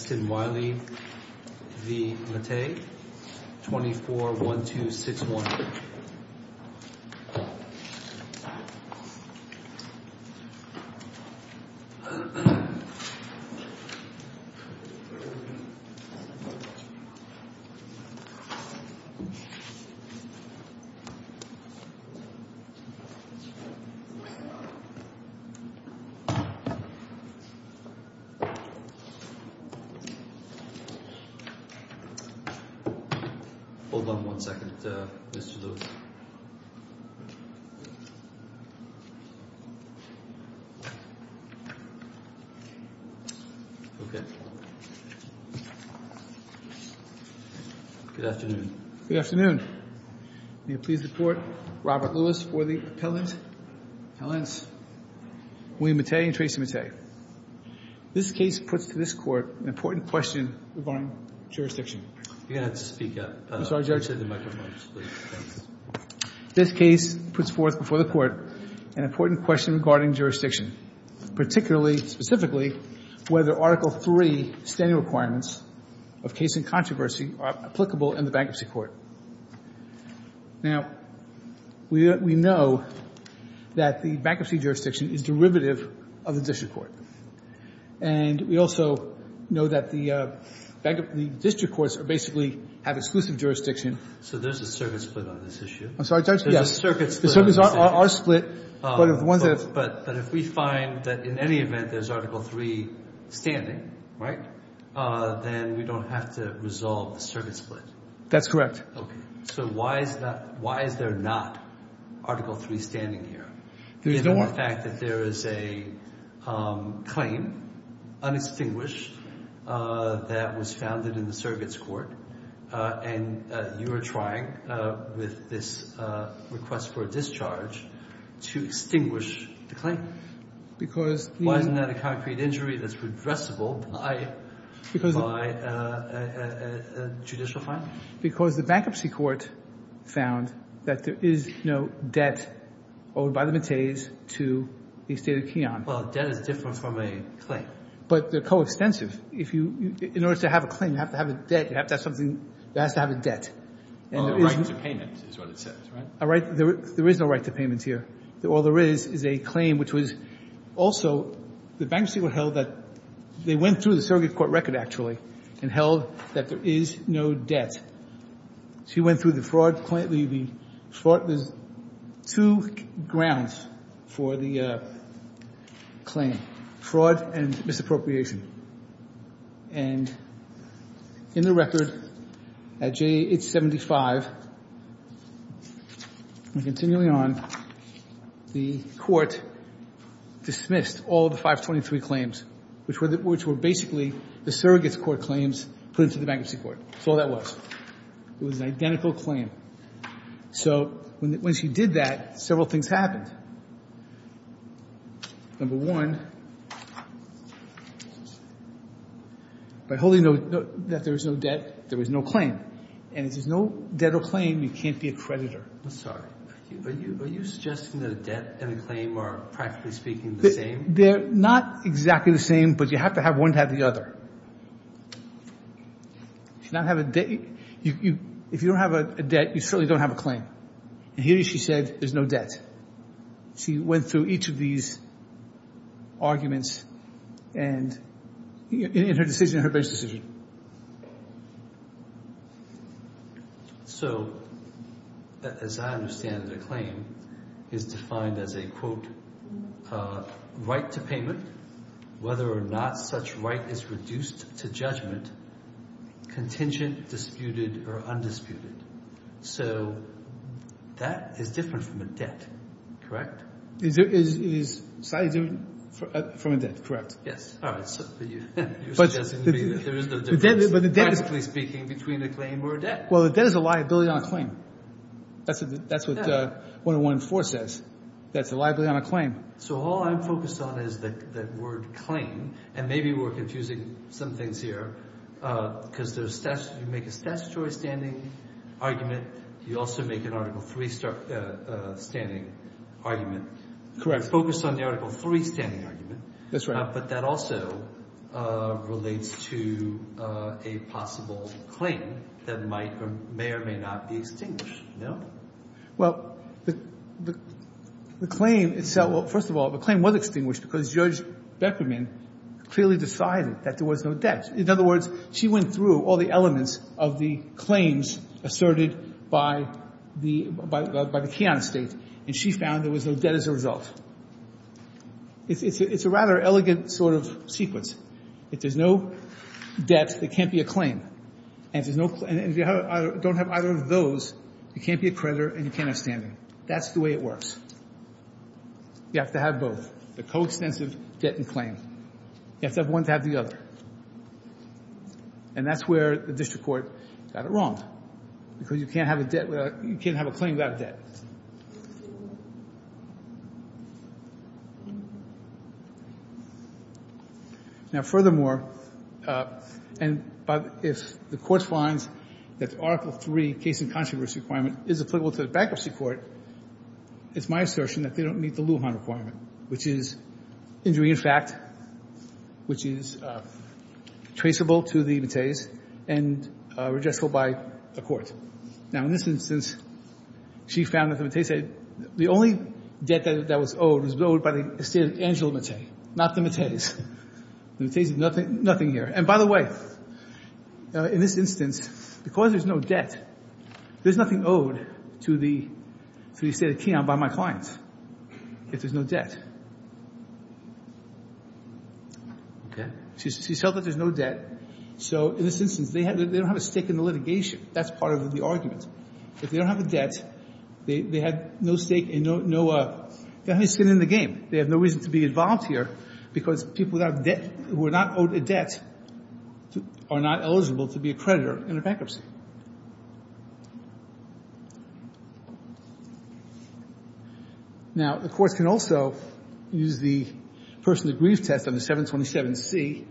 Justin Wiley v. Mattei, 24-1261 Good afternoon. May it please the Court, Robert Lewis for the appellants, William Mattei and Tracy Mattei. This case puts to this Court an important question regarding jurisdiction. You're going to have to speak up. I'm sorry, Judge. This case puts forth before the Court an important question regarding jurisdiction. Particularly, specifically, whether Article III standing requirements of case in controversy are applicable in the bankruptcy court. Now, we know that the bankruptcy jurisdiction is derivative of the district court. And we also know that the district courts basically have exclusive jurisdiction. So there's a circuit split on this issue. I'm sorry, Judge. There's a circuit split on this issue. The circuits are split. But if we find that in any event there's Article III standing, right, then we don't have to resolve the circuit split. That's correct. Okay. So why is that, why is there not Article III standing here? There's no more. Given the fact that there is a claim, unextinguished, that was founded in the circuits court. And you are trying with this request for a discharge to extinguish the claim. Because the Well, isn't that a concrete injury that's redressable by a judicial fine? Because the bankruptcy court found that there is no debt owed by the metes to the estate of Keyon. Well, debt is different from a claim. But they're coextensive. If you, in order to have a claim, you have to have a debt, you have to have something, you have to have a debt. Well, a right to payment is what it says, right? A right, there is no right to payment here. All there is is a claim, which was also the bankruptcy court held that they went through the circuit court record, actually, and held that there is no debt. She went through the fraud claim. There's two grounds for the claim, fraud and misappropriation. And in the record, at J875, and continuing on, the court dismissed all the 523 claims, which were basically the surrogates court claims put into the bankruptcy court. That's all that was. It was an identical claim. So when she did that, several things happened. Number one, by holding that there is no debt, there was no claim. And if there's no debt or claim, you can't be a creditor. I'm sorry. Are you suggesting that a debt and a claim are, practically speaking, the same? They're not exactly the same, but you have to have one to have the other. If you don't have a debt, you certainly don't have a claim. And here she said there's no debt. She went through each of these arguments in her decision, her bench decision. So, as I understand it, a claim is defined as a, quote, right to payment, whether or not such right is reduced to judgment, contingent, disputed, or undisputed. So that is different from a debt, correct? It is slightly different from a debt, correct. Yes. All right. You're suggesting to me that there is no difference, practically speaking, between a claim or a debt. Well, a debt is a liability on a claim. That's what 101-4 says. That's a liability on a claim. So all I'm focused on is that word claim, and maybe we're confusing some things here because you make a statutory standing argument. You also make an Article III standing argument. Correct. Focused on the Article III standing argument. That's right. But that also relates to a possible claim that might or may or may not be extinguished, no? Well, the claim itself, well, first of all, the claim was extinguished because Judge Beckerman clearly decided that there was no debt. In other words, she went through all the elements of the claims asserted by the Kiana State, and she found there was no debt as a result. It's a rather elegant sort of sequence. If there's no debt, there can't be a claim. And if you don't have either of those, you can't be a creditor and you can't have standing. That's the way it works. You have to have both, the coextensive debt and claim. You have to have one to have the other. And that's where the district court got it wrong because you can't have a claim without debt. Now, furthermore, if the court finds that the Article III case in controversy requirement is applicable to the bankruptcy court, it's my assertion that they don't meet the Lujan requirement, which is injury in fact, which is traceable to the Mateys and redressable by a court. Now, in this instance, she found that the Mateys said the only debt that was owed was owed by the estate of Angela Matey, not the Mateys. The Mateys did nothing here. And by the way, in this instance, because there's no debt, there's nothing owed to the estate of Keon by my clients if there's no debt. She's held that there's no debt. So in this instance, they don't have a stake in the litigation. That's part of the argument. If they don't have a debt, they have no stake in no – they have no stake in the game. They have no reason to be involved here because people who are not owed a debt are not eligible to be a creditor in a bankruptcy. Now, the courts can also use the person to grieve test on the 727C,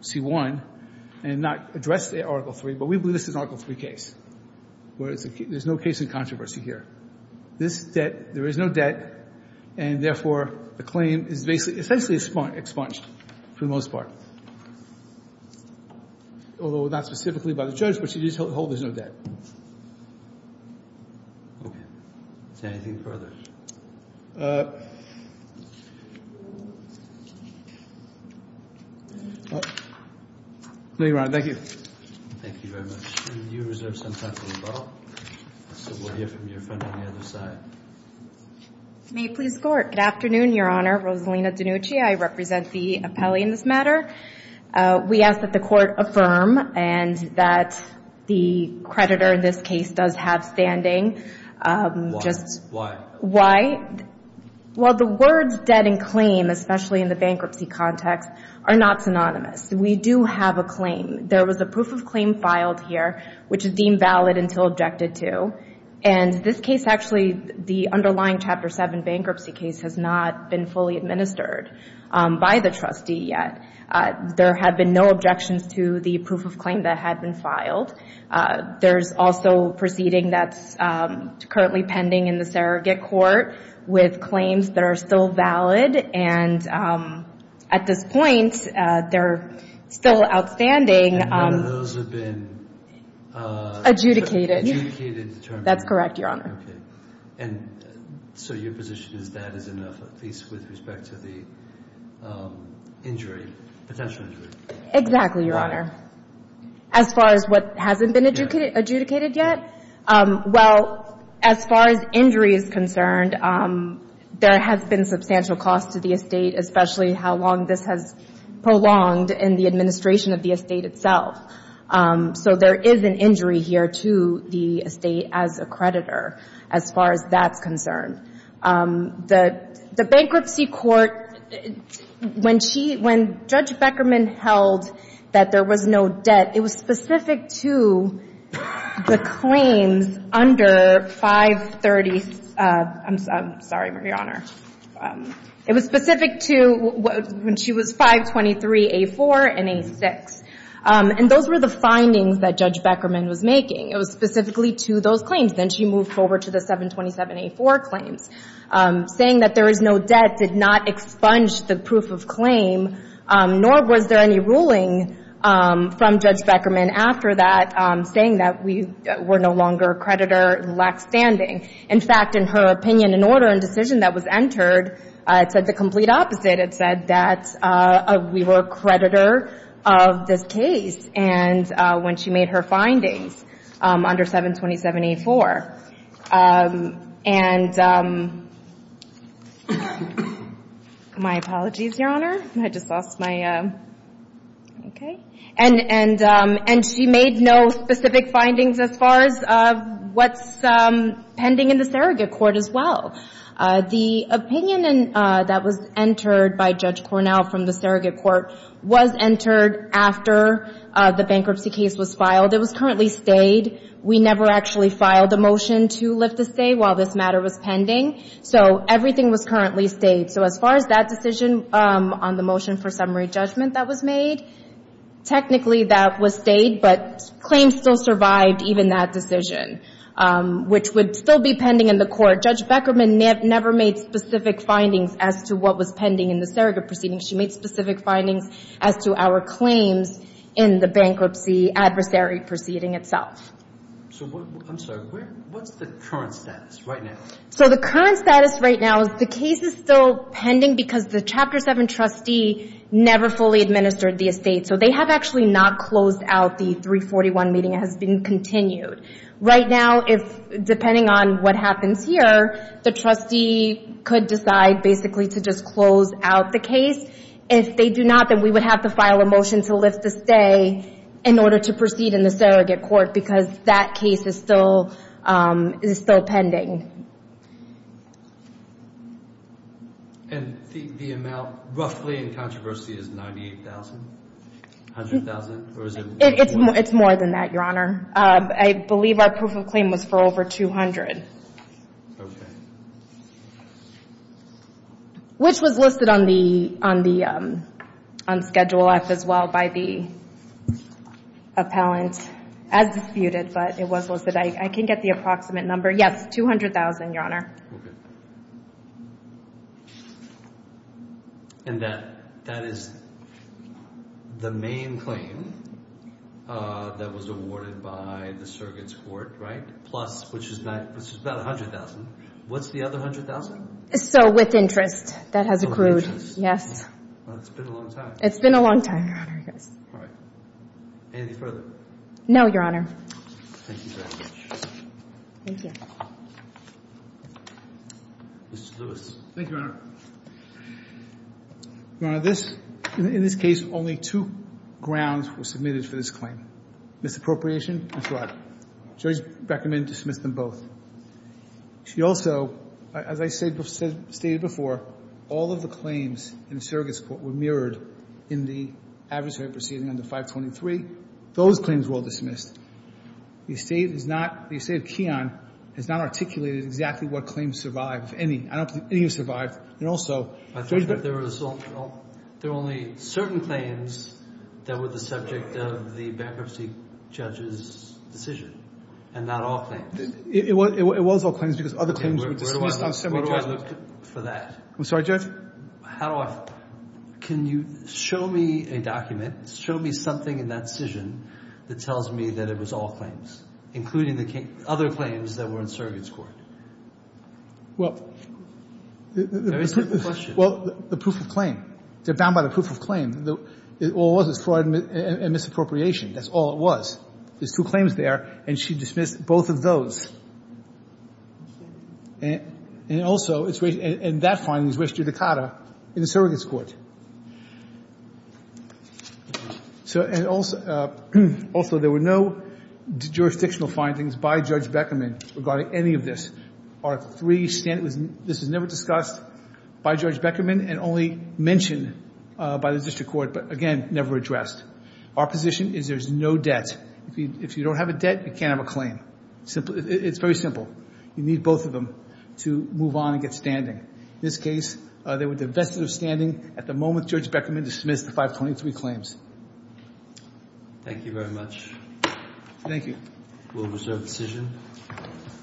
C1, and not address the Article III, but we believe this is an Article III case, where there's no case in controversy here. This debt – there is no debt, and therefore the claim is essentially expunged for the most part. Although not specifically by the judge, but she did hold there's no debt. Okay. Is there anything further? No, Your Honor. Thank you. Thank you very much. And you reserve some time for rebuttal. So we'll hear from your friend on the other side. May it please the Court. Good afternoon, Your Honor. Rosalina DiNucci. I represent the appellee in this matter. We ask that the Court affirm and that the creditor in this case does have standing. Why? Why? Well, the words debt and claim, especially in the bankruptcy context, are not synonymous. We do have a claim. There was a proof of claim filed here, which is deemed valid until objected to. And this case actually, the underlying Chapter 7 bankruptcy case, has not been fully administered by the trustee yet. There have been no objections to the proof of claim that had been filed. There's also proceeding that's currently pending in the surrogate court with claims that are still valid. And at this point, they're still outstanding. And none of those have been... Adjudicated. Adjudicated determined. That's correct, Your Honor. Okay. And so your position is that is enough, at least with respect to the injury, potential injury? Exactly, Your Honor. Why? As far as what hasn't been adjudicated yet? Yeah. Well, as far as injury is concerned, there has been substantial cost to the estate, especially how long this has prolonged in the administration of the estate itself. So there is an injury here to the estate as a creditor, as far as that's concerned. The bankruptcy court, when Judge Beckerman held that there was no debt, it was specific to the claims under 530... I'm sorry, Your Honor. It was specific to when she was 523A4 and A6. And those were the findings that Judge Beckerman was making. It was specifically to those claims. Then she moved forward to the 727A4 claims, saying that there is no debt did not expunge the proof of claim, nor was there any ruling from Judge Beckerman after that saying that we were no longer a creditor in the last standing. In fact, in her opinion, in order and decision that was entered, it said the complete opposite. It said that we were a creditor of this case when she made her findings under 727A4. And my apologies, Your Honor. I just lost my... Okay. And she made no specific findings as far as what's pending in the surrogate court as well. The opinion that was entered by Judge Cornell from the surrogate court was entered after the bankruptcy case was filed. It was currently stayed. We never actually filed a motion to lift the stay while this matter was pending. So everything was currently stayed. So as far as that decision on the motion for summary judgment that was made, technically that was stayed, but claims still survived even that decision, which would still be pending in the court. Judge Beckerman never made specific findings as to what was pending in the surrogate proceedings. She made specific findings as to our claims in the bankruptcy adversary proceeding itself. I'm sorry. What's the current status right now? So the current status right now is the case is still pending because the Chapter 7 trustee never fully administered the estate. So they have actually not closed out the 341 meeting. It has been continued. Right now, depending on what happens here, the trustee could decide basically to just close out the case. If they do not, then we would have to file a motion to lift the stay in order to proceed in the surrogate court because that case is still pending. And the amount roughly in controversy is $98,000? $100,000? It's more than that, Your Honor. I believe our proof of claim was for over $200,000. Okay. Which was listed on Schedule F as well by the appellant as disputed, but it was listed. I can get the approximate number. Yes, $200,000, Your Honor. Okay. And that is the main claim that was awarded by the surrogate's court, right? Plus, which is about $100,000. What's the other $100,000? So with interest, that has accrued. Yes. Well, it's been a long time. It's been a long time, Your Honor. All right. Anything further? No, Your Honor. Thank you very much. Thank you. Mr. Lewis. Thank you, Your Honor. Your Honor, in this case, only two grounds were submitted for this claim, misappropriation and fraud. The judge recommended to dismiss them both. She also, as I stated before, all of the claims in the surrogate's court were mirrored in the adversary proceeding under 523. Those claims were all dismissed. The estate of Keon has not articulated exactly what claims survived. I don't think any have survived. There were only certain claims that were the subject of the bankruptcy judge's decision. And not all claims. It was all claims because other claims were dismissed on several charges. Where do I look for that? I'm sorry, Judge? How do I? Can you show me a document, show me something in that decision that tells me that it was all claims, including the other claims that were in surrogate's court? Well, the proof of claim. They're bound by the proof of claim. All it was was fraud and misappropriation. That's all it was. There's two claims there, and she dismissed both of those. And also, it's raised, and that finding is registered to CADA in the surrogate's court. So, and also, there were no jurisdictional findings by Judge Beckerman regarding any of this. Article 3, this was never discussed by Judge Beckerman and only mentioned by the district court, but, again, never addressed. Our position is there's no debt. If you don't have a debt, you can't have a claim. It's very simple. You need both of them to move on and get standing. In this case, they were divested of standing at the moment Judge Beckerman dismissed the 523 claims. Thank you very much. Thank you. We'll reserve the decision.